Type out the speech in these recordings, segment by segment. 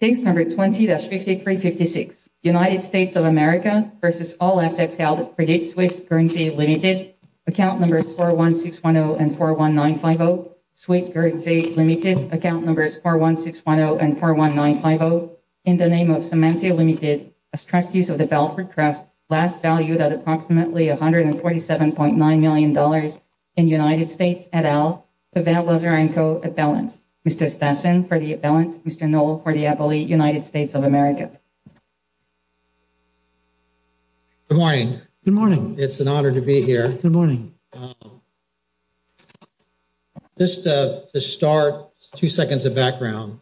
Case number 20-5356, United States of America v. All Assets Held at Credit Suisse, Currency Limited, Account Numbers 41610 and 41950, Suisse Currency Limited, Account Numbers 41610 and 41950, in the name of Cementio Limited, as trustees of the Balfour Trust, last valued at approximately $147.9 million in United States et al., for the appellate United States of America. Good morning. Good morning. It's an honor to be here. Good morning. Just to start, two seconds of background.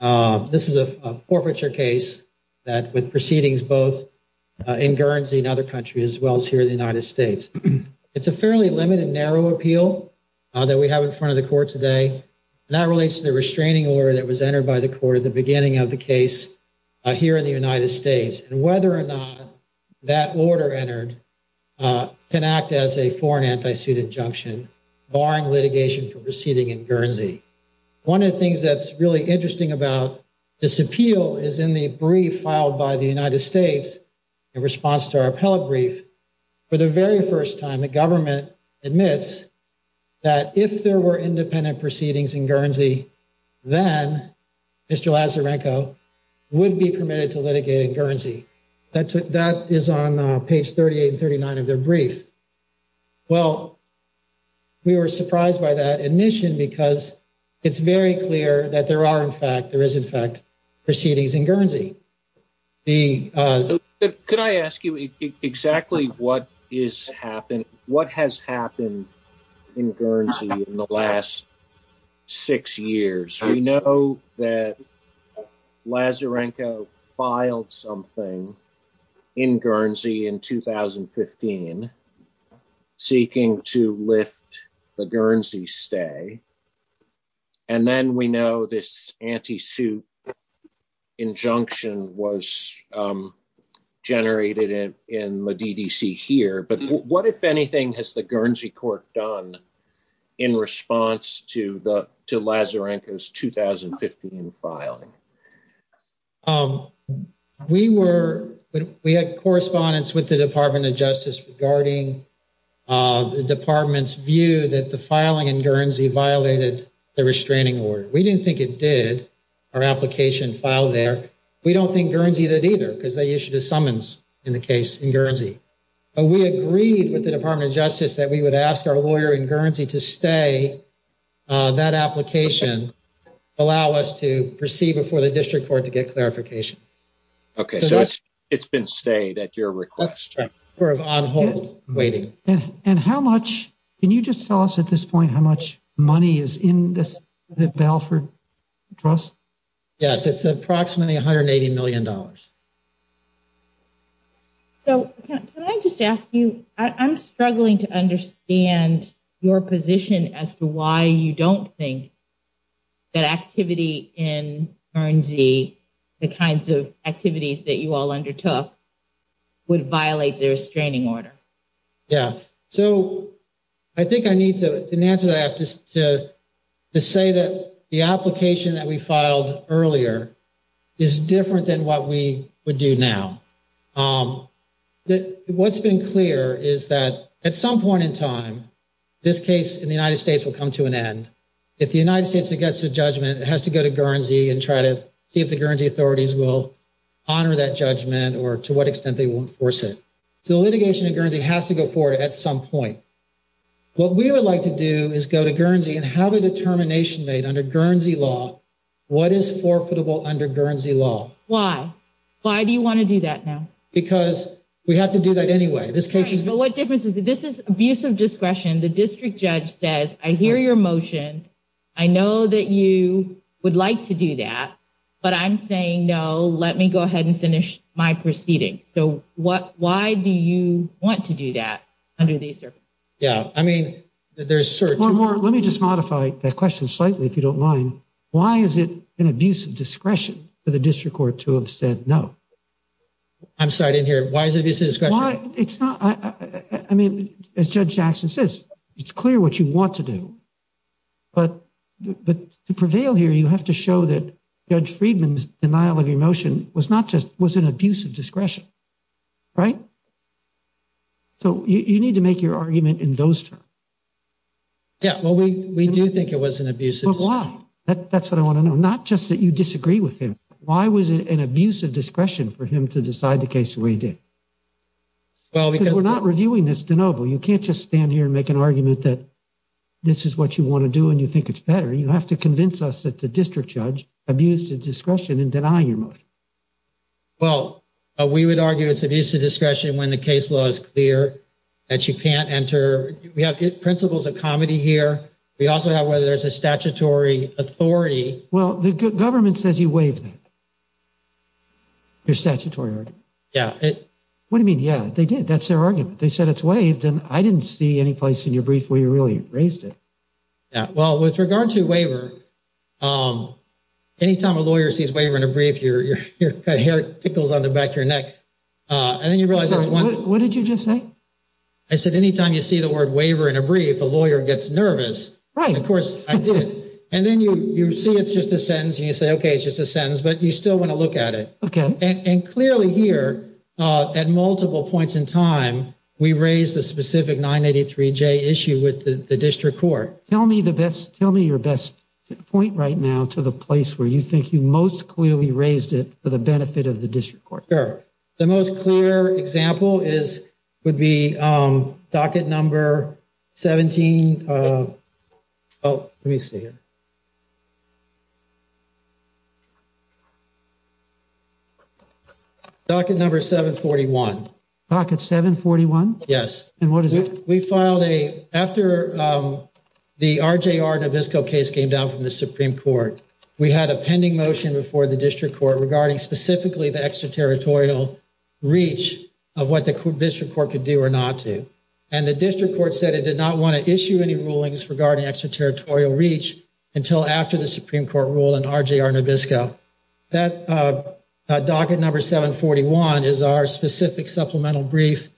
This is a forfeiture case that with proceedings both in Guernsey and other countries as well as here in the United States. It's a fairly limited narrow appeal that we have in front of the court today. And that relates to the restraining order that was entered by the court at the beginning of the case here in the United States. And whether or not that order entered can act as a foreign anti-suit injunction barring litigation for proceeding in Guernsey. One of the things that's really interesting about this appeal is in the brief filed by the United States in response to our appellate brief. For the very first time, the government admits that if there were independent proceedings in Guernsey, then Mr. Lazarenko would be permitted to litigate in Guernsey. That is on page 38 and 39 of their brief. Well, we were surprised by that admission because it's very clear that there are in fact, there is in fact, proceedings in Guernsey. Could I ask you exactly what has happened in Guernsey in the last six years? We know that Lazarenko filed something in Guernsey in 2015 seeking to lift the Guernsey stay. And then we know this anti-suit injunction was generated in the DDC here. But what, if anything, has the Guernsey court done in response to Lazarenko's 2015 filing? We were, we had correspondence with the Department of Justice regarding the department's view that the filing in Guernsey violated the restraining order. We didn't think it did. Our application filed there. We don't think Guernsey did either because they issued a summons in the case in Guernsey. But we agreed with the Department of Justice that we would ask our lawyer in Guernsey to stay. That application allow us to proceed before the district court to get clarification. Okay, so it's been stayed at your request. On hold, waiting. And how much, can you just tell us at this point how much money is in this, the Balfour Trust? Yes, it's approximately $180 million. So can I just ask you, I'm struggling to understand your position as to why you don't think that activity in Guernsey, the kinds of activities that you all undertook, would violate the restraining order. Yeah, so I think I need to, to say that the application that we filed earlier is different than what we would do now. What's been clear is that at some point in time, this case in the United States will come to an end. If the United States gets a judgment, it has to go to Guernsey and try to see if the Guernsey authorities will honor that judgment or to what extent they will enforce it. So litigation in Guernsey has to go forward at some point. What we would like to do is go to Guernsey and have a determination made under Guernsey law what is forfeitable under Guernsey law. Why? Why do you want to do that now? Because we have to do that anyway. This case is... But what difference is, this is abuse of discretion. The district judge says, I hear your motion, I know that you would like to do that, but I'm saying no, let me go ahead and finish my proceeding. So what, why do you want to do that under these circumstances? Yeah, I mean, there's certain... Let me just modify that question slightly, if you don't mind. Why is it an abuse of discretion for the district court to have said no? I'm sorry, I didn't hear. Why is it an abuse of discretion? It's not... I mean, as Judge Jackson says, it's clear what you want to do, but to prevail here, you have to show that Judge Friedman's denial of your motion was not just... was an abuse of discretion, right? So you need to make your argument in those terms. Yeah, well, we do think it was an abuse of discretion. But why? That's what I want to know. Not just that you disagree with him. Why was it an abuse of discretion for him to decide the case the way he did? Well, because... Because we're not reviewing this, DeNoble. You can't just stand here and make an argument that this is what you want to do and you think it's better. You have to convince us that the district judge abused his discretion in denying your motion. Well, we would argue it's abuse of discretion when the case law is clear that you can't enter. We have good principles of comedy here. We also have whether there's a statutory authority. Well, the government says you waived it. Your statutory argument. Yeah. What do you mean, yeah? They did. That's their argument. They said it's waived and I didn't see any place in your brief where you really raised it. Yeah, well, with regard to waiver, anytime a lawyer sees waiver in a brief, your hair tickles on the back of your neck. And then you realize... What did you just say? I said anytime you see the word waiver in a brief, a lawyer gets nervous. Right. Of course, I did. And then you see it's just a sentence and you say, okay, it's just a sentence, but you still want to look at it. Okay. And clearly here, at multiple points in time, we raised the specific 983J issue with the district court. Tell me the best... Tell me your best point right now to the place where you think you most clearly raised it for benefit of the district court. Sure. The most clear example would be docket number 17... Oh, let me see here. Docket number 741. Docket 741? Yes. And what is it? We filed a... After the RJR Nabisco case came down from the Supreme Court, we had a pending motion before the district court regarding specifically the extraterritorial reach of what the district court could do or not to. And the district court said it did not want to issue any rulings regarding extraterritorial reach until after the Supreme Court ruled in RJR Nabisco. That docket number 741 is our specific supplemental brief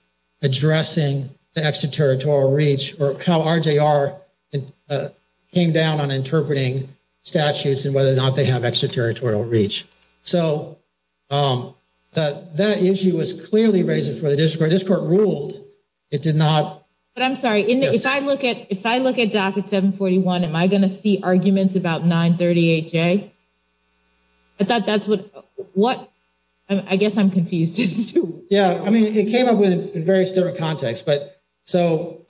addressing the extraterritorial reach or how RJR came down on interpreting statutes and whether or not they have extraterritorial reach. So that issue was clearly raised before the district court. The district court ruled it did not... But I'm sorry, if I look at docket 741, am I going to see arguments about 938J? I thought that's what... I guess I'm confused too. Yeah, I mean, it came up in various different contexts. But so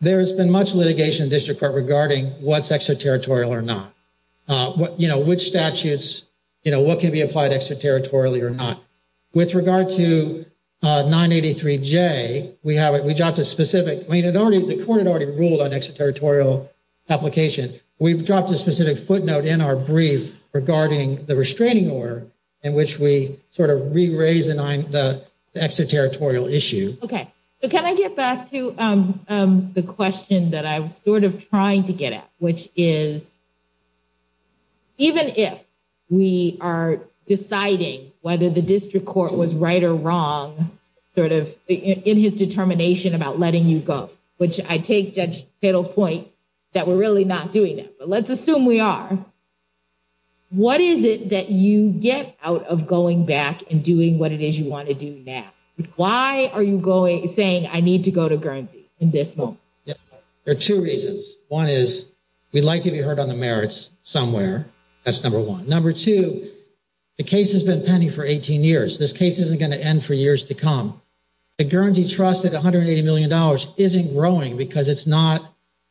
there's been much litigation district court regarding what's extraterritorial or not. You know, which statutes, you know, what can be applied extraterritorially or not. With regard to 983J, we dropped a specific... I mean, the court had already ruled on extraterritorial application. We've dropped a specific footnote in our brief regarding the restraining order in which we sort of re-raise the extraterritorial issue. Okay. So can I get back to the question that I was sort of trying to get at, which is, even if we are deciding whether the district court was right or wrong, sort of in his determination about letting you go, which I take Judge Tittle's point that we're really not doing that. But let's assume we are. What is it that you get out of going back and doing what it is you want to do now? Why are you saying I need to go to Guernsey in this moment? Yeah, there are two reasons. One is we'd like to be heard on the merits somewhere. That's number one. Number two, the case has been pending for 18 years. This case isn't going to end for years to come. The Guernsey trust at $180 million isn't growing because it's not...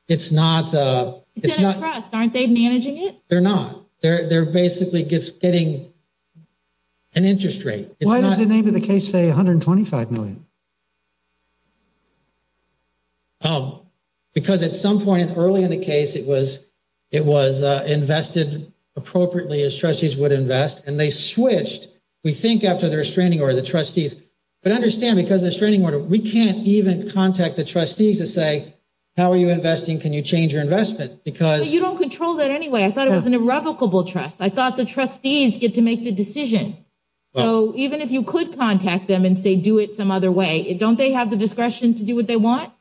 It's a trust. Aren't they managing it? They're not. They're basically just getting an interest rate. Why does the name of the case say $125 million? Because at some point early in the case, it was invested appropriately as trustees would invest, and they switched, we think, after the restraining order, the trustees. But understand, because of the restraining order, we can't even contact the trustees and say, how are you investing? Can you change your investment? You don't control that anyway. I thought it was an irrevocable trust. I thought the trustees get to make the decision. So even if you could contact them and say, do it some other way, don't they have the discretion to do what they want?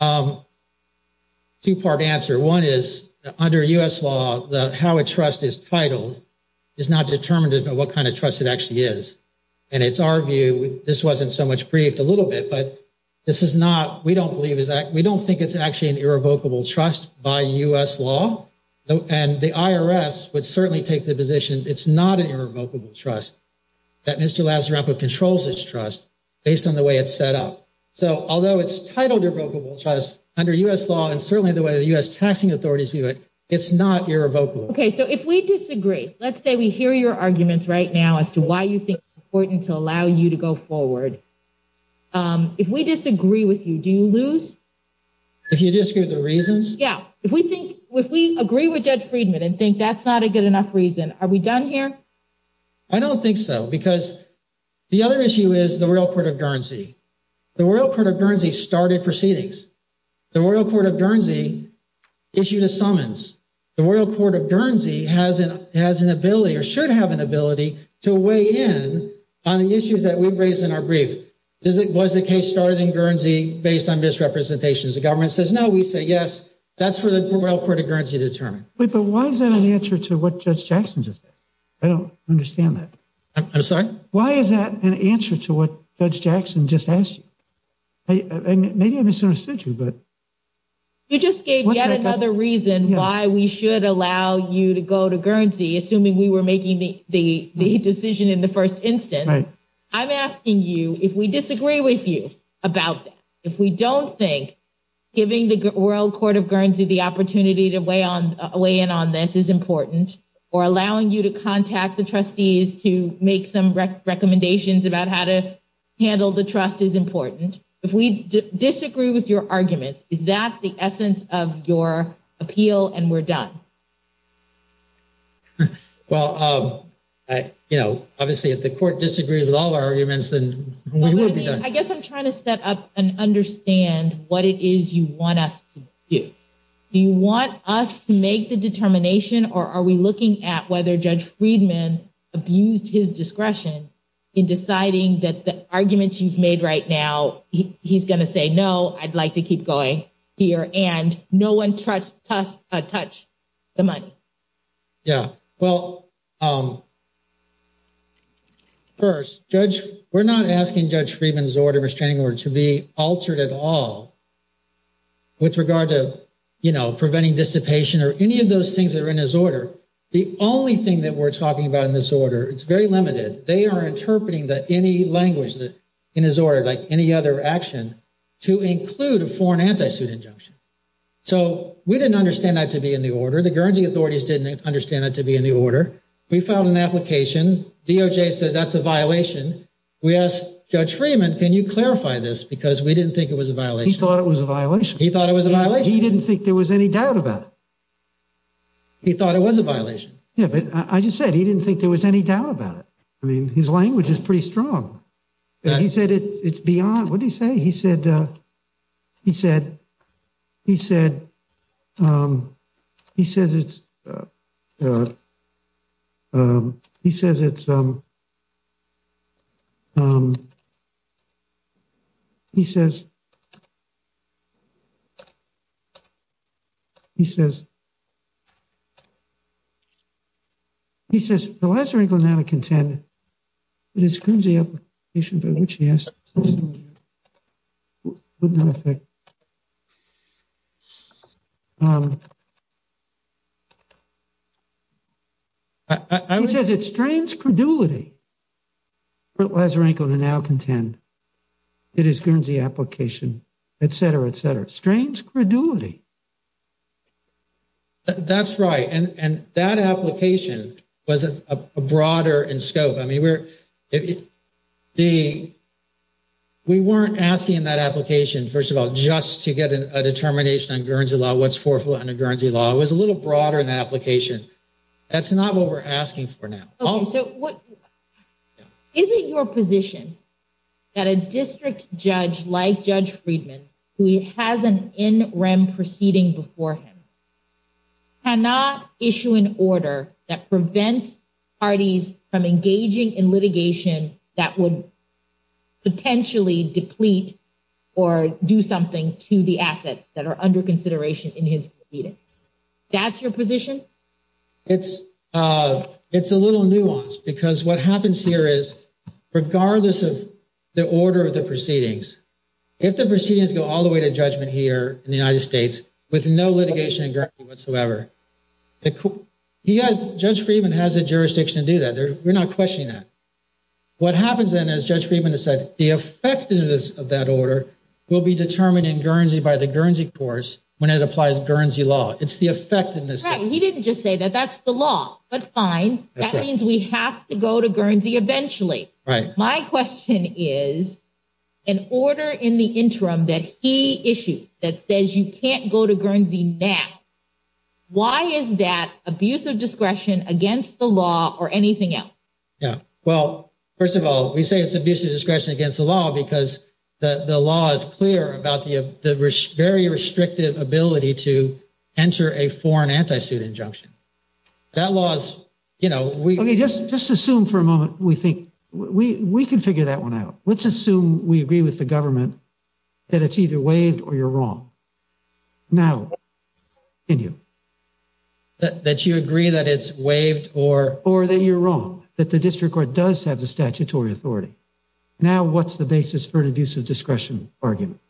Two-part answer. One is, under US law, how a trust is titled is not determinative of what kind of trust it actually is. And it's our view, this wasn't so much briefed a little bit, but this is not... We don't believe it's actually an irrevocable trust by US law. And the IRS would certainly take the position, it's not an irrevocable trust, that Mr. Lazzarampo controls its trust based on the way it's set up. So although it's titled irrevocable trust under US law, and certainly the way the US taxing authorities view it, it's not irrevocable. Okay, so if we disagree, let's say we hear your arguments right now as to why you think it's important to allow you to go forward. If we disagree with you, do you lose? If you disagree with the reasons? Yeah, if we agree with Judge Friedman and think that's not a good enough reason, are we done here? I don't think so, because the other issue is the Royal Court of Guernsey. The Royal Court of Guernsey started proceedings. The Royal Court of Guernsey issued a summons. The Royal Court of Guernsey has an ability, or should have an ability, to weigh in on the issues that we've raised in our brief. Was the case started in Guernsey based on misrepresentations? The government says no, we say yes. That's for the Royal Court of Guernsey to determine. Wait, but why is that an answer to what Judge Jackson just said? I don't understand that. I'm sorry? Why is that an answer to what Judge Jackson just asked you? Maybe I misunderstood you, but... You just gave yet another reason why we should allow you to go to Guernsey, assuming we were making the decision in the first instance. I'm asking you if we disagree with you about that. If we don't think giving the Royal Court of Guernsey the opportunity to weigh in on this is important, or allowing you to contact the trustees to make some recommendations about how to handle the trust is important. If we disagree with your argument, is that the essence of your appeal and we're done? Well, obviously, if the court disagrees with all of our arguments, then we will be done. I guess I'm trying to set up and understand what it is you want us to do. Do you want us to make the determination, or are we looking at whether Judge Friedman abused his discretion in deciding that the arguments you've made right now, he's going to say, no, I'd like to keep going here, and no one touched the money? Yeah. Well, first, we're not asking Judge Friedman's restraining order to be altered at all with regard to preventing dissipation or any of those things that are in his order. The only thing that we're talking about in this order, it's very limited. They are interpreting any language in his order, like any other action, to include a foreign anti-suit injunction. So we didn't understand that to be in the order. The Guernsey authorities didn't understand that to be in the order. We filed an application. DOJ says that's a violation. We asked Judge Friedman, can you clarify this? Because we didn't think it was a violation. He thought it was a violation. He thought it was a violation. He didn't think there was any doubt about it. He thought it was a violation. Yeah, but I just said he didn't think there was any doubt about it. I mean, his language is pretty strong. He said it's beyond, what did he say? He said, he said, he said, he says it's, he says it's, he says, he says, he says, the Lazarenko now contend it is Guernsey application by which he asked. He says it strains credulity for Lazarenko to now contend it is Guernsey application, et cetera, et cetera. Strains credulity. That's right. And that application was a broader in scope. I mean, we're, we weren't asking that application, first of all, just to get a determination on Guernsey law, what's forfeited under Guernsey law. It was a little broader in the application. That's not what we're asking for now. Okay, so what, is it your position that a district judge like Judge Friedman, who has an NREM proceeding before him, cannot issue an order that prevents parties from engaging in litigation that would potentially deplete or do something to the assets that are under consideration in his proceeding? That's your position? It's, it's a little nuanced because what happens here is, regardless of the order of the proceedings, if the proceedings go all the way to judgment here in the United States with no litigation in Guernsey whatsoever, he has, Judge Friedman has the jurisdiction to do that. We're not questioning that. What happens then, as Judge Friedman has said, the effectiveness of that when it applies to Guernsey law. It's the effectiveness. He didn't just say that that's the law, but fine. That means we have to go to Guernsey eventually. Right. My question is, an order in the interim that he issued that says you can't go to Guernsey now, why is that abuse of discretion against the law or anything else? Yeah, well, first of all, we say it's abuse of discretion against the law because the law is clear about the very restrictive ability to enter a foreign anti-suit injunction. That law is, you know, we- Okay, just assume for a moment, we think we can figure that one out. Let's assume we agree with the government that it's either waived or you're wrong. Now, continue. That you agree that it's waived or- Or that you're wrong, that the district court does have the statutory authority. Now, what's the basis for an abuse of discretion argument?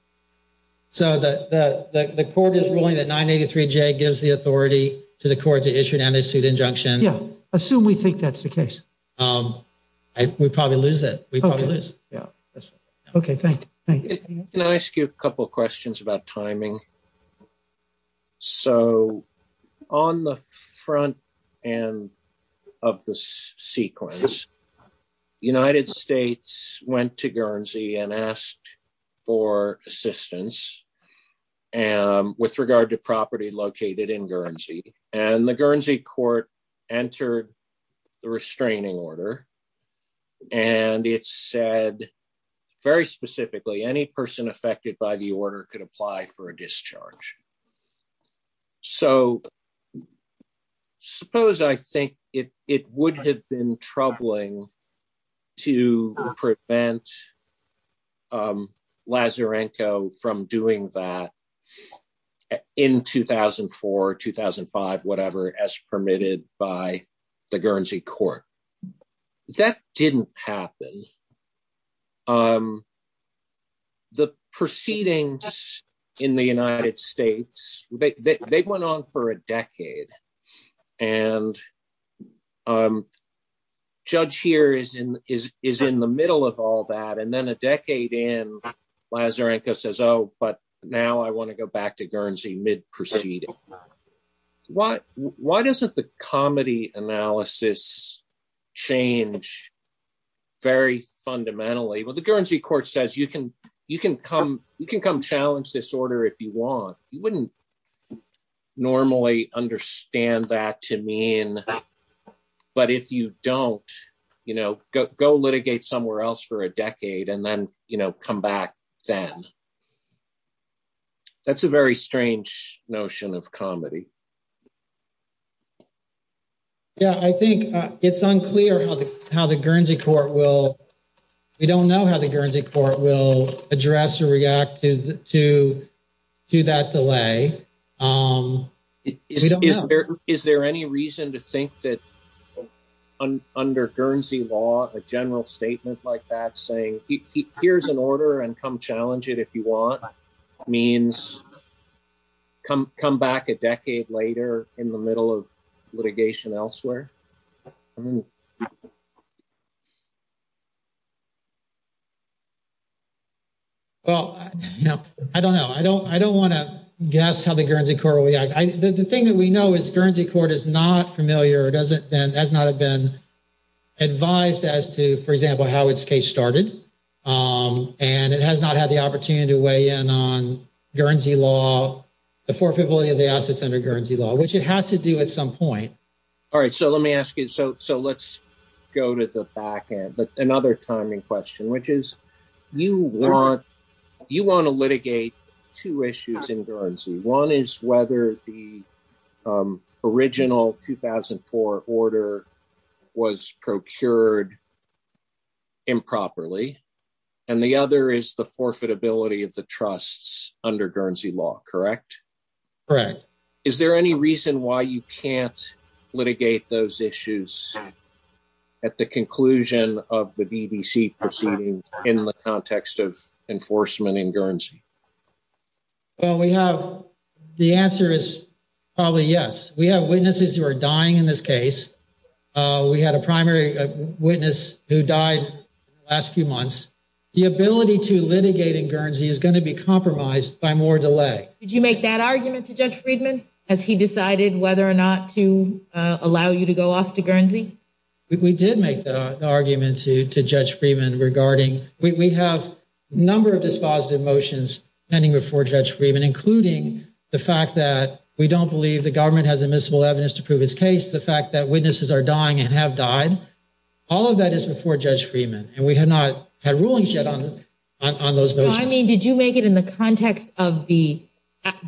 So, the court is ruling that 983J gives the authority to the court to issue an anti-suit injunction. Yeah, assume we think that's the case. We'd probably lose it. We'd probably lose. Yeah. Okay, thank you. Can I ask you a couple of questions about timing? So, on the front end of the sequence, United States went to Guernsey and asked for assistance with regard to property located in Guernsey. And the Guernsey court entered the restraining order. And it said, very specifically, any person affected by the order could apply for a discharge. So, suppose I think it would have been troubling to prevent Lazarenko from doing that in 2004, 2005, whatever, as permitted by the Guernsey court. That didn't happen. The proceedings in the United States, they went on for a decade. And Judge here is in the middle of all that. And then a decade in, Lazarenko says, oh, but now I want to go back to Guernsey mid-proceeding. Why doesn't the comedy analysis change very fundamentally? Well, the Guernsey court says, you can come challenge this order if you want. You wouldn't normally understand that to mean, but if you don't, go litigate somewhere else for a decade and then come back then. That's a very strange notion of comedy. Yeah, I think it's unclear how the Guernsey court will, we don't know how the Guernsey court will address or react to that delay. Is there any reason to think that under Guernsey law, a general statement like that saying, here's an order and come challenge it if you want, means come back a decade later in the middle of litigation elsewhere. Well, no, I don't know. I don't want to guess how the Guernsey court will react. The thing that we know is Guernsey court is not familiar. It hasn't been advised as to, for example, how its case started. And it has not had the opportunity to weigh in on Guernsey law, the forfeitability of the assets under Guernsey law, which it has to do at some point. All right, so let me ask you, so let's go to the back end. But another timing question, which is, you want to litigate two issues in Guernsey. One is whether the original 2004 order was procured improperly. And the other is the forfeitability of the trusts under Guernsey law, correct? Correct. Is there any reason why you can't litigate those issues at the conclusion of the BBC proceedings in the context of enforcement in Guernsey? Well, we have, the answer is probably yes. We have witnesses who are dying in this case. We had a primary witness who died last few months. The ability to litigate in Guernsey is going to be compromised by more delay. Did you make that argument to Judge Friedman, as he decided whether or not to allow you to go off to Guernsey? We did make the argument to Judge Friedman regarding, we have a number of dispositive motions pending before Judge Friedman, including the fact that we don't believe the government has admissible evidence to prove his case, the fact that witnesses are dying and have died. All of that is before Judge Friedman, and we have not had rulings yet on those motions. No, I mean, did you make it in the context of the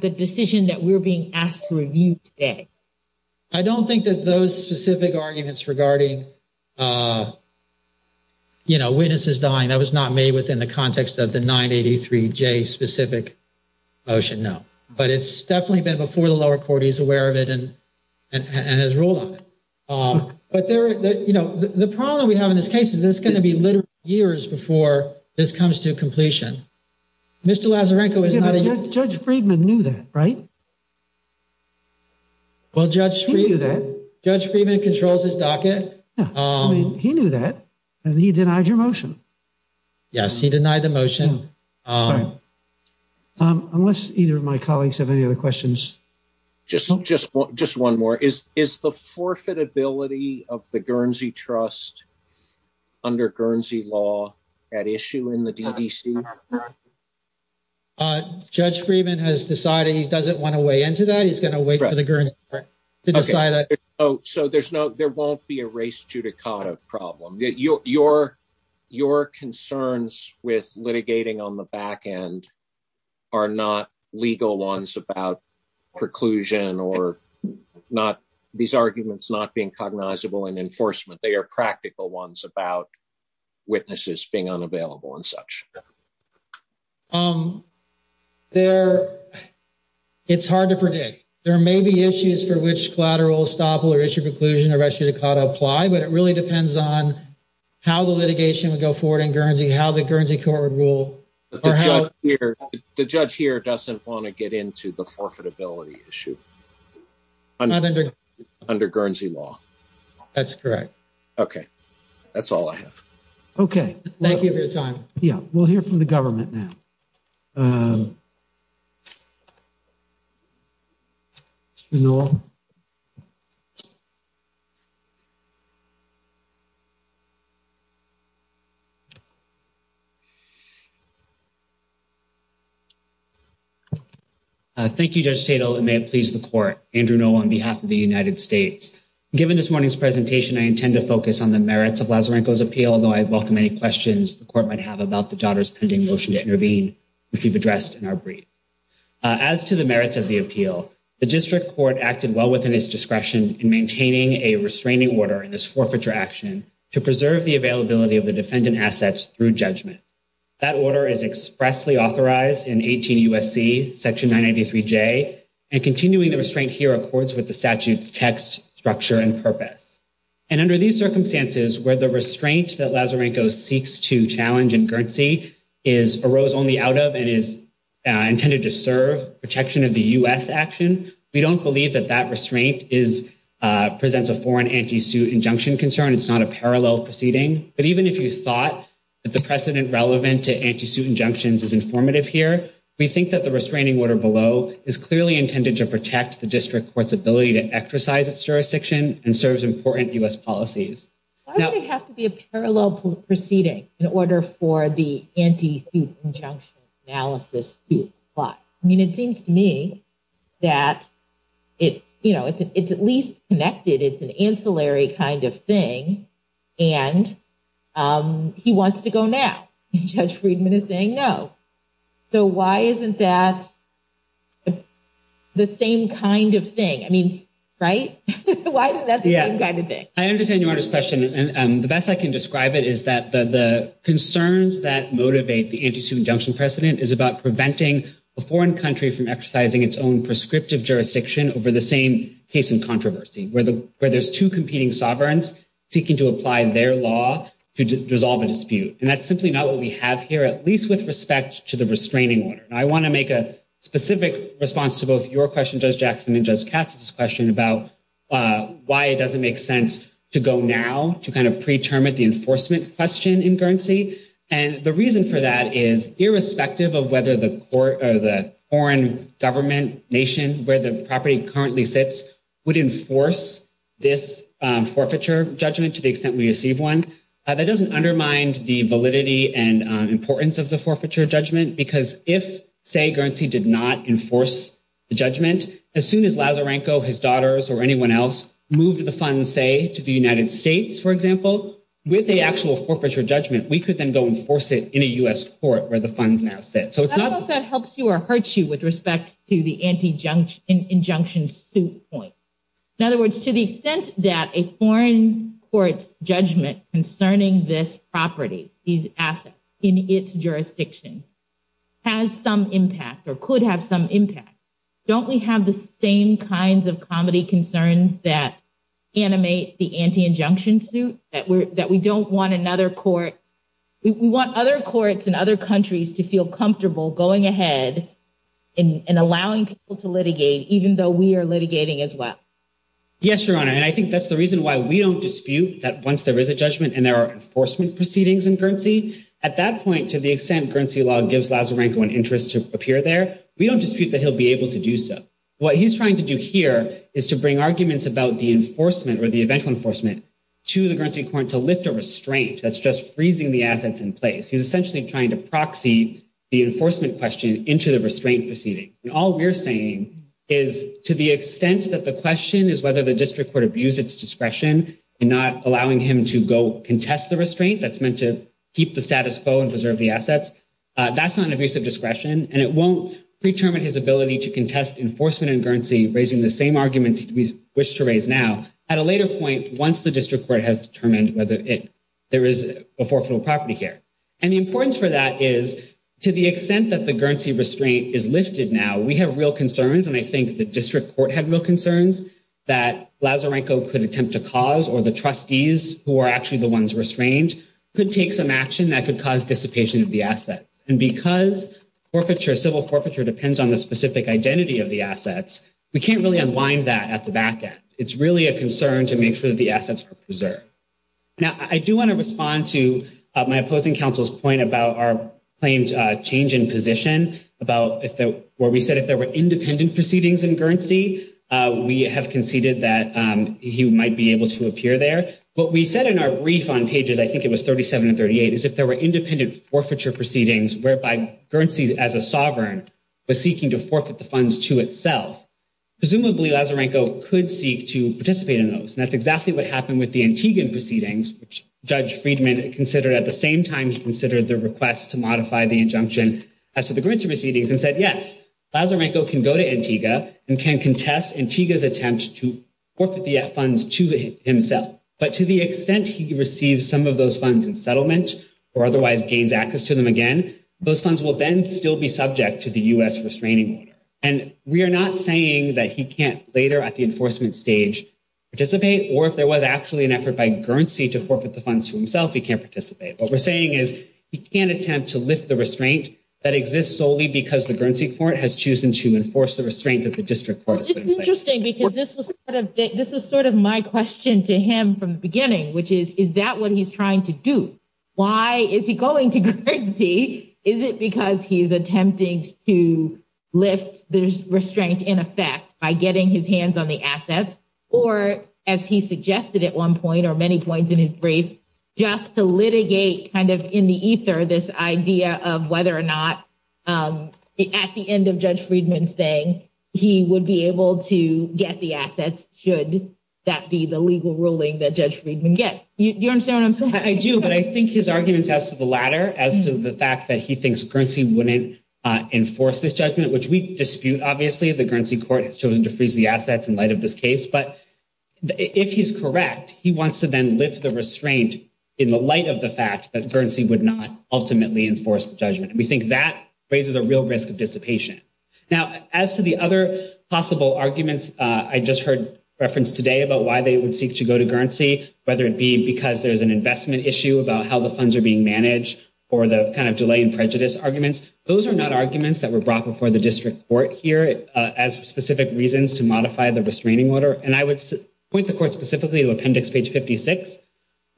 decision that we're being asked to review today? I don't think that those specific arguments regarding, you know, witnesses dying, that was not made within the context of the 983J specific motion, no. But it's definitely been before the lower court, he's aware of it and has ruled on it. But there, you know, the problem we have in this case is it's going to be literally years before this comes to completion. Mr. Lazarenko is not a... Judge Friedman knew that, right? He knew that. Judge Friedman controls his docket. He knew that, and he denied your motion. Yes, he denied the motion. Unless either of my colleagues have any other questions. Just one more, is the forfeitability of the Guernsey Trust under Guernsey law at issue in the DDC? Judge Friedman has decided he doesn't want to weigh into that, he's going to wait for the Guernsey to decide that. Oh, so there's no, there won't be a race judicata problem. Your concerns with litigating on the back end are not legal ones about preclusion or not, these arguments not being cognizable in enforcement. They are practical ones about witnesses being unavailable and such. Um, there, it's hard to predict. There may be issues for which collateral estoppel or issue preclusion or race judicata apply, but it really depends on how the litigation would go forward in Guernsey, how the Guernsey court would rule. The judge here doesn't want to get into the forfeitability issue under Guernsey law. That's correct. Okay, that's all I have. Okay. Thank you for your time. Yeah, we'll hear from the government now. Um, Mr. Noel. Thank you, Judge Tatel, and may it please the court. Andrew Noel on behalf of the United States. Given this morning's presentation, I intend to focus on the merits of Lazzarenco's appeal, although I welcome any questions the court might have about the daughter's pending motion to intervene, which we've addressed in our brief. As to the merits of the appeal, the district court acted well within its discretion in maintaining a restraining order in this forfeiture action to preserve the availability of the defendant assets through judgment. That order is expressly authorized in 18 U.S.C. Section 993J, and continuing the restraint here accords with the statute's text, structure, and purpose. And under these circumstances, where the restraint that Lazzarenco seeks to challenge in Guernsey arose only out of and is intended to serve protection of the U.S. action, we don't believe that that restraint presents a foreign anti-suit injunction concern. It's not a parallel proceeding. But even if you thought that the precedent relevant to anti-suit injunctions is informative here, we think that the restraining order below is clearly intended to protect the district court's ability to exercise its jurisdiction and serves important U.S. policies. Why would it have to be a parallel proceeding in order for the anti-suit injunction analysis to apply? I mean, it seems to me that it's at least connected. It's an ancillary kind of thing. And he wants to go now. Judge Friedman is saying no. So why isn't that the same kind of thing? I mean, right? Why isn't that the same kind of thing? I understand Your Honor's question. And the best I can describe it is that the concerns that motivate the anti-suit injunction precedent is about preventing a foreign country from exercising its own prescriptive jurisdiction over the same case in controversy, where there's two competing sovereigns seeking to apply their law to dissolve a dispute. And that's simply not what we have here, at least with respect to the restraining order. I want to make a specific response to both your question, Judge Jackson, and Judge Katz's question about why it doesn't make sense to go now to kind of preterm at the enforcement question in Guernsey. And the reason for that is irrespective of whether the court or the foreign government nation where the property currently sits would enforce this forfeiture judgment to the extent we receive one. That doesn't undermine the validity and importance of the forfeiture judgment. Because if, say, Guernsey did not enforce the judgment, as soon as Lazarenko, his daughters, or anyone else moved the funds, say, to the United States, for example, with the actual forfeiture judgment, we could then go enforce it in a U.S. court where the funds now sit. I don't know if that helps you or hurts you with respect to the injunction suit point. In other words, to the extent that a foreign court's judgment concerning this property, these assets, in its jurisdiction has some impact or could have some impact, don't we have the same kinds of comedy concerns that animate the anti-injunction suit, that we don't want another court, we want other courts in other countries to feel comfortable going ahead and allowing people to litigate, even though we are litigating as well? Yes, Your Honor. And I think that's the reason why we don't dispute that once there is a judgment and there are enforcement proceedings in Guernsey, at that point, to the extent Guernsey law gives Lazarenko an interest to appear there, we don't dispute that he'll be able to do so. What he's trying to do here is to bring arguments about the enforcement or the eventual enforcement to the Guernsey court to lift a restraint that's just freezing the assets in place. He's essentially trying to proxy the enforcement question into the restraint proceeding. All we're saying is, to the extent that the question is whether the district court abused its discretion in not allowing him to go contest the restraint that's meant to keep the status quo and preserve the assets, that's not an abuse of discretion, and it won't pre-determine his ability to contest enforcement in Guernsey, raising the same arguments we wish to raise now, at a later point, once the district court has determined there is a forfeitable property here. And the importance for that is, to the extent that the Guernsey restraint is lifted now, we have real concerns, and I think the district court had real concerns, that Lazarenko could attempt to cause, or the trustees, who are actually the ones restrained, could take some action that could cause dissipation of the assets. And because civil forfeiture depends on the specific identity of the assets, we can't really unwind that at the back end. It's really a concern to make sure that the assets are preserved. Now, I do want to respond to my opposing counsel's point about our claimed change in position, where we said if there were independent proceedings in Guernsey, we have conceded that he might be able to appear there. What we said in our brief on pages, I think it was 37 and 38, is if there were independent forfeiture proceedings, whereby Guernsey, as a sovereign, was seeking to forfeit the funds to itself, presumably Lazarenko could seek to participate in those, and that's what Judge Friedman considered at the same time he considered the request to modify the injunction as to the Guernsey proceedings, and said, yes, Lazarenko can go to Antigua and can contest Antigua's attempt to forfeit the funds to himself. But to the extent he receives some of those funds in settlement, or otherwise gains access to them again, those funds will then still be subject to the U.S. restraining order. And we are not saying that he can't later at the enforcement stage participate, or if there was actually an effort by Guernsey to forfeit the funds to himself, he can't participate. What we're saying is he can't attempt to lift the restraint that exists solely because the Guernsey court has chosen to enforce the restraint that the district court has put in place. It's interesting because this was sort of my question to him from the beginning, which is, is that what he's trying to do? Why is he going to Guernsey? Is it because he's attempting to lift the restraint in effect by getting his hands on the assets, or as he suggested at one point, or many points in his brief, just to litigate kind of in the ether this idea of whether or not at the end of Judge Friedman's day, he would be able to get the assets should that be the legal ruling that Judge Friedman gets. Do you understand what I'm saying? I do, but I think his arguments as to the latter, as to the fact that he thinks Guernsey wouldn't enforce this judgment, which we dispute, obviously, the Guernsey court has chosen to do at the end of this case, but if he's correct, he wants to then lift the restraint in the light of the fact that Guernsey would not ultimately enforce the judgment. And we think that raises a real risk of dissipation. Now, as to the other possible arguments I just heard referenced today about why they would seek to go to Guernsey, whether it be because there's an investment issue about how the funds are being managed, or the kind of delay in prejudice arguments, those are not arguments that were brought before the district court here as specific reasons to modify the restraining order, and I would point the court specifically to appendix page 56,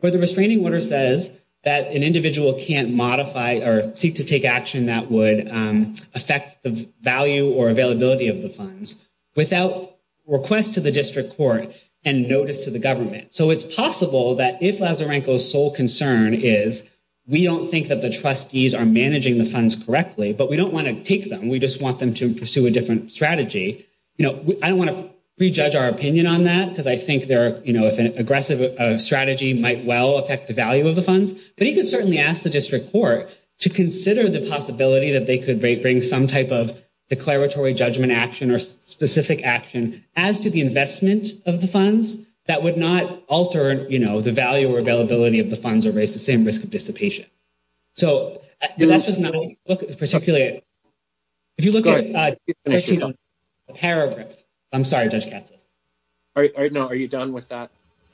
where the restraining order says that an individual can't modify or seek to take action that would affect the value or availability of the funds without request to the district court and notice to the government. So it's possible that if Lazarenko's sole concern is we don't think that the trustees are managing the funds correctly, but we don't want to take them, we just want them to pursue a different strategy, you know, I don't want to prejudge our opinion on that, because I think there are, you know, if an aggressive strategy might well affect the value of the funds, but you can certainly ask the district court to consider the possibility that they could bring some type of declaratory judgment action or specific action as to the investment of the funds that would not alter, you know, the value or availability of the funds or raise the same risk of dissipation. So that's just not, if you look at the paragraph, I'm sorry, Judge Katsas. All right, no, are you done with that?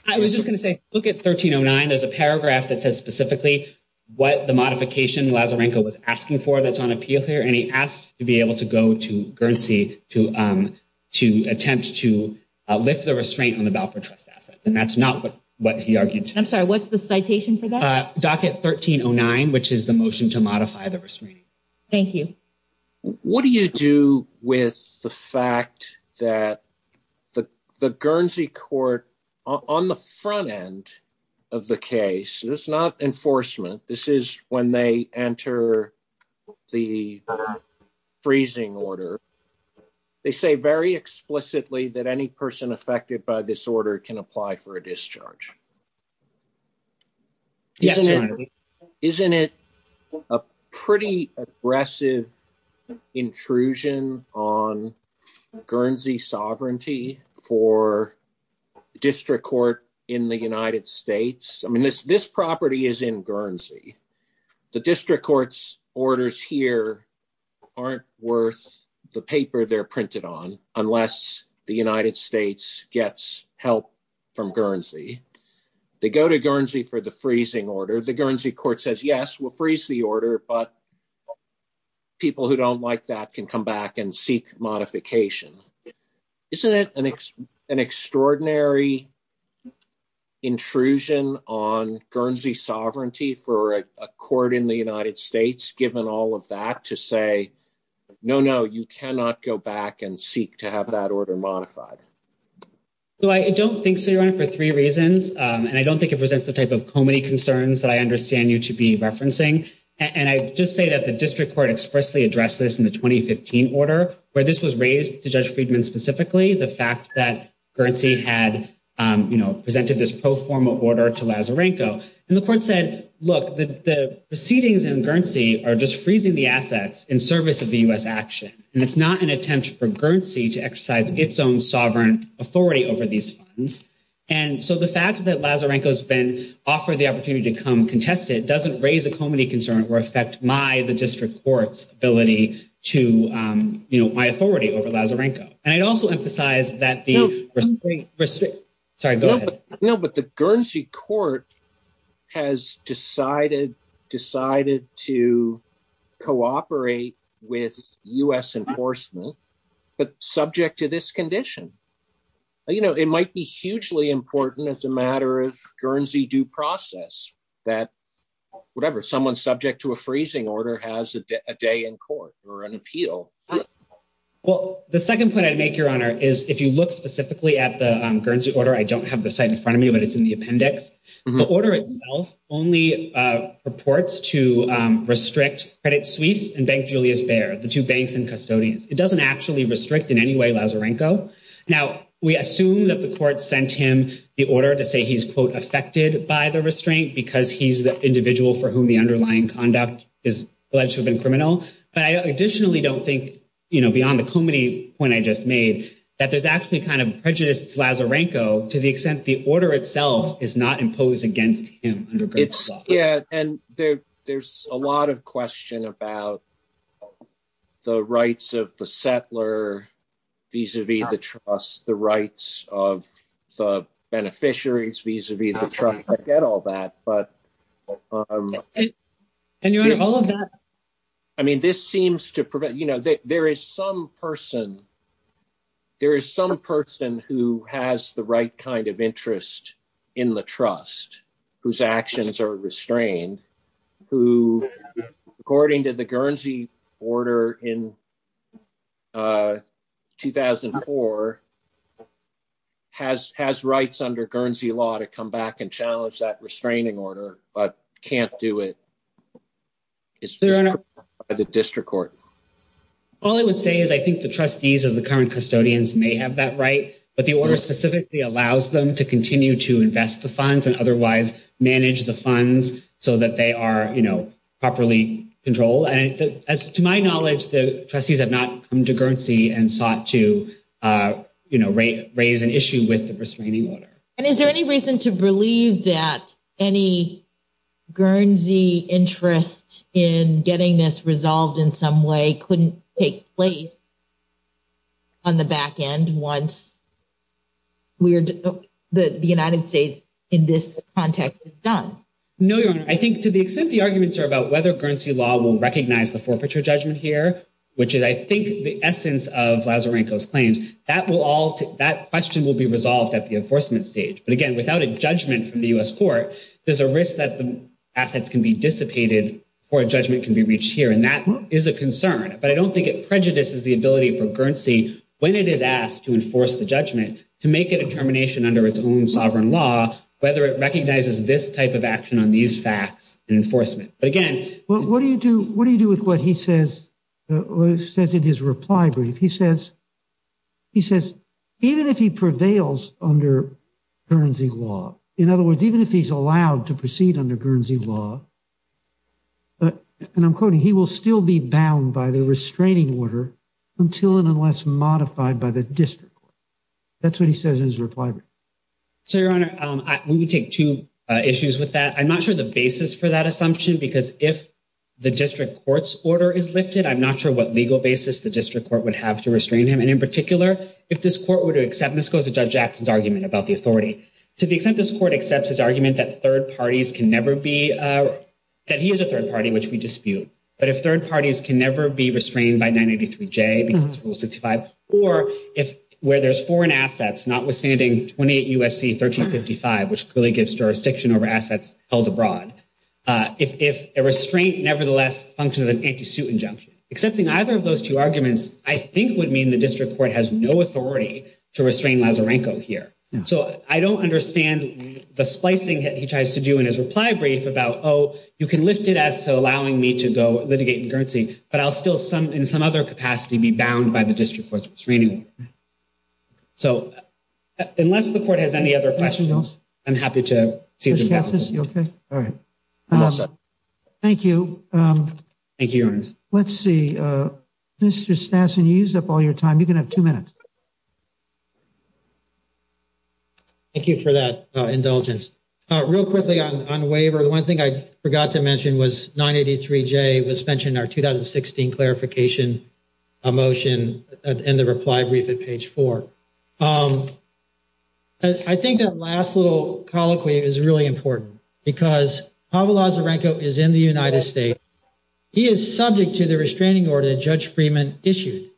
I was just going to say, look at 1309. There's a paragraph that says specifically what the modification Lazarenko was asking for that's on appeal here, and he asked to be able to go to Guernsey to attempt to lift the restraint on the Balfour Trust assets, and that's not what he argued. I'm sorry, what's the citation for that? Docket 1309, which is the motion to modify the restraining. Thank you. What do you do with the fact that the Guernsey court, on the front end of the case, this is not enforcement. This is when they enter the freezing order. They say very explicitly that any person affected by this order can apply for a discharge. Yes, sir. Isn't it a pretty aggressive intrusion on Guernsey sovereignty for district court in the United States? I mean, this property is in Guernsey. The district court's orders here aren't worth the paper they're printed on unless the United States. They go to Guernsey for the freezing order. The Guernsey court says, yes, we'll freeze the order, but people who don't like that can come back and seek modification. Isn't it an extraordinary intrusion on Guernsey sovereignty for a court in the United States, given all of that, to say, no, no, you cannot go back and seek to have that order modified? So I don't think so, Your Honor, for three reasons. And I don't think it presents the type of comedy concerns that I understand you to be referencing. And I just say that the district court expressly addressed this in the 2015 order, where this was raised to Judge Friedman specifically, the fact that Guernsey had presented this pro forma order to Lazarenko. And the court said, look, the proceedings in Guernsey are just freezing the assets in service of the U.S. action. And it's not an attempt for Guernsey to exercise its own sovereign authority over these funds. And so the fact that Lazarenko has been offered the opportunity to come contest it doesn't raise a comedy concern or affect my, the district court's ability to, you know, my authority over Lazarenko. And I'd also emphasize that the- No. Sorry, go ahead. No, but the Guernsey court has decided, decided to cooperate with U.S. enforcement, but subject to this condition. You know, it might be hugely important as a matter of Guernsey due process that whatever, someone subject to a freezing order has a day in court or an appeal. Well, the second point I'd make, Your Honor, is if you look specifically at the Guernsey order, I don't have the site in front of me, but it's in the appendix. The order itself only purports to restrict Credit Suisse and Bank Julius Baer, the two banks and custodians. It doesn't actually restrict in any way Lazarenko. Now, we assume that the court sent him the order to say he's, quote, affected by the restraint because he's the individual for whom the underlying conduct is alleged to have been criminal. But I additionally don't think, you know, beyond the comedy point I just made, that there's actually kind of prejudice to Lazarenko to the extent the order itself is not imposed against him under Guernsey law. Yeah, and there's a lot of question about the rights of the settler vis-a-vis the trust, the rights of the beneficiaries vis-a-vis the trust. I get all that. But, Your Honor, all of that, I mean, this seems to prevent, you know, there is some person, there is some person who has the right kind of interest in the trust whose actions are restrained, who, according to the Guernsey order in 2004, has rights under Guernsey law to come back and challenge that restraining order, but can't do it. It's the district court. All I would say is I think the trustees of the current custodians may have that right, but the order specifically allows them to continue to invest the funds and otherwise manage the funds so that they are, you know, properly controlled. And as to my knowledge, the trustees have not come to Guernsey and sought to, you know, raise an issue with the restraining order. And is there any reason to believe that any Guernsey interest in getting this resolved in some way couldn't take place on the back end once the United States, in this context, is done? No, Your Honor. I think to the extent the arguments are about whether Guernsey law will recognize the forfeiture judgment here, which is, I think, the essence of Lazarenko's claims, that question will be resolved at the enforcement stage. But again, without a judgment from the U.S. court, there's a risk that the assets can be dissipated before a judgment can be reached here. And that is a concern. But I don't think it prejudices the ability for Guernsey, when it is asked to enforce the judgment, to make a determination under its own sovereign law, whether it recognizes this type of action on these facts in enforcement. But again— What do you do with what he says in his reply brief? He says, even if he prevails under Guernsey law, in other words, even if he's allowed to proceed under Guernsey law, and I'm quoting, he will still be bound by the restraining order until and unless modified by the district court. That's what he says in his reply brief. So, Your Honor, let me take two issues with that. I'm not sure the basis for that assumption, because if the district court's order is lifted, I'm not sure what legal basis the district court would have to restrain him. And in particular, if this court were to accept—this goes to Judge Jackson's argument about the can never be—that he is a third party, which we dispute. But if third parties can never be restrained by 983J because of Rule 65, or if where there's foreign assets, notwithstanding 28 U.S.C. 1355, which really gives jurisdiction over assets held abroad, if a restraint nevertheless functions as an anti-suit injunction, accepting either of those two arguments, I think would mean the district court has no authority to restrain Lazarenko here. So, I don't understand the splicing that he tries to do in his reply brief about, oh, you can lift it as to allowing me to go litigate concurrency, but I'll still, in some other capacity, be bound by the district court's restraining order. So, unless the court has any other questions, I'm happy to see— Judge Katsas, you okay? All right. Thank you. Thank you, Your Honor. Let's see. Mr. Stassen, you used up all your time. You can have two minutes. Thank you for that indulgence. Real quickly on waiver, the one thing I forgot to mention was 983J was mentioned in our 2016 clarification motion in the reply brief at page 4. I think that last little colloquy is really important because Pavel Lazarenko is in the United States. He is subject to the restraining order that Judge Freeman issued.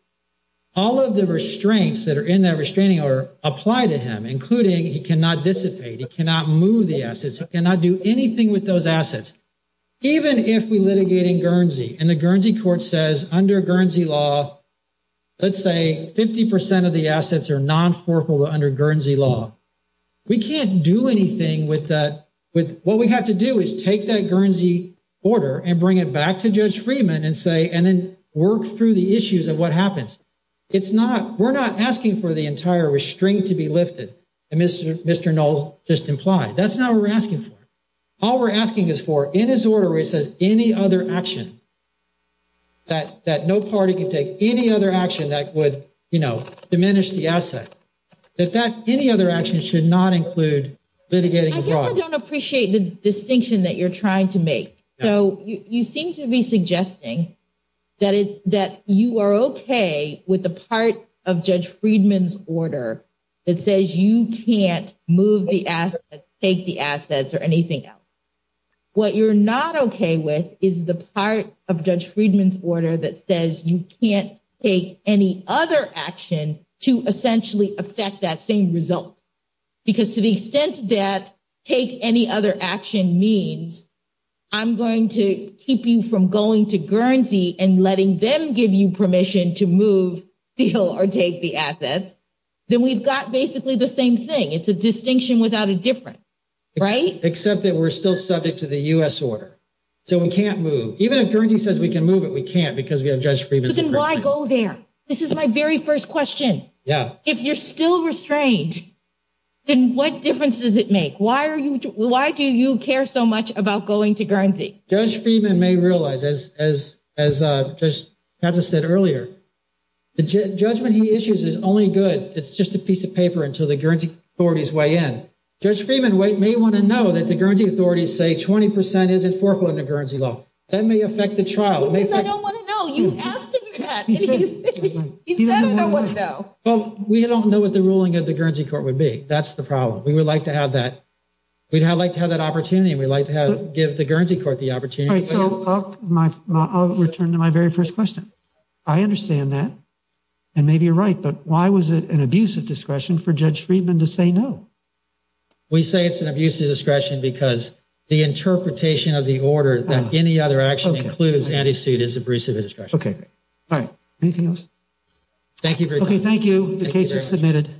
All of the restraints that are in that restraining order apply to him, including he cannot dissipate, he cannot move the assets, he cannot do anything with those assets. Even if we litigate in Guernsey and the Guernsey court says, under Guernsey law, let's say 50 percent of the assets are non-forkable under Guernsey law, we can't do anything with that—what we have to do is take that Guernsey order and bring it back to Judge Freeman and work through the issues of what happens. We're not asking for the entire restraint to be lifted, as Mr. Knoll just implied. That's not what we're asking for. All we're asking is for, in his order, where it says any other action that no party can take, any other action that would diminish the asset, any other action should not include litigating the problem. I guess I don't appreciate the distinction that you're trying to make. So, you seem to be suggesting that you are okay with the part of Judge Freeman's order that says you can't move the assets, take the assets, or anything else. What you're not okay with is the part of Judge Freeman's order that says you can't take any other action to essentially affect that same result, because to the extent that take any other action means I'm going to keep you from going to Guernsey and letting them give you permission to move, steal, or take the assets, then we've got basically the same thing. It's a distinction without a difference, right? Except that we're still subject to the U.S. order. So, we can't move. Even if Guernsey says we can move it, we can't because we have Judge Freeman's— Then why go there? This is my very first question. Yeah. If you're still restrained, then what difference does it make? Why do you care so much about going to Guernsey? Judge Freeman may realize, as Judge Pazza said earlier, the judgment he issues is only good. It's just a piece of paper until the Guernsey authorities weigh in. Judge Freeman may want to know that the Guernsey authorities say 20 percent isn't foreclosed under Guernsey law. That may affect the trial. He says I don't want to know. You asked him that, and he said I don't want to know. Well, we don't know what the ruling of the Guernsey court would be. That's the problem. We would like to have that. We'd like to have that opportunity, and we'd like to give the Guernsey court the opportunity. So, I'll return to my very first question. I understand that, and maybe you're right, but why was it an abuse of discretion for Judge Freeman to say no? We say it's an abuse of discretion because the interpretation of the order that any other action includes anti-suit is an abuse of discretion. Okay. All right. Anything else? Thank you for your time. Thank you. The case is submitted.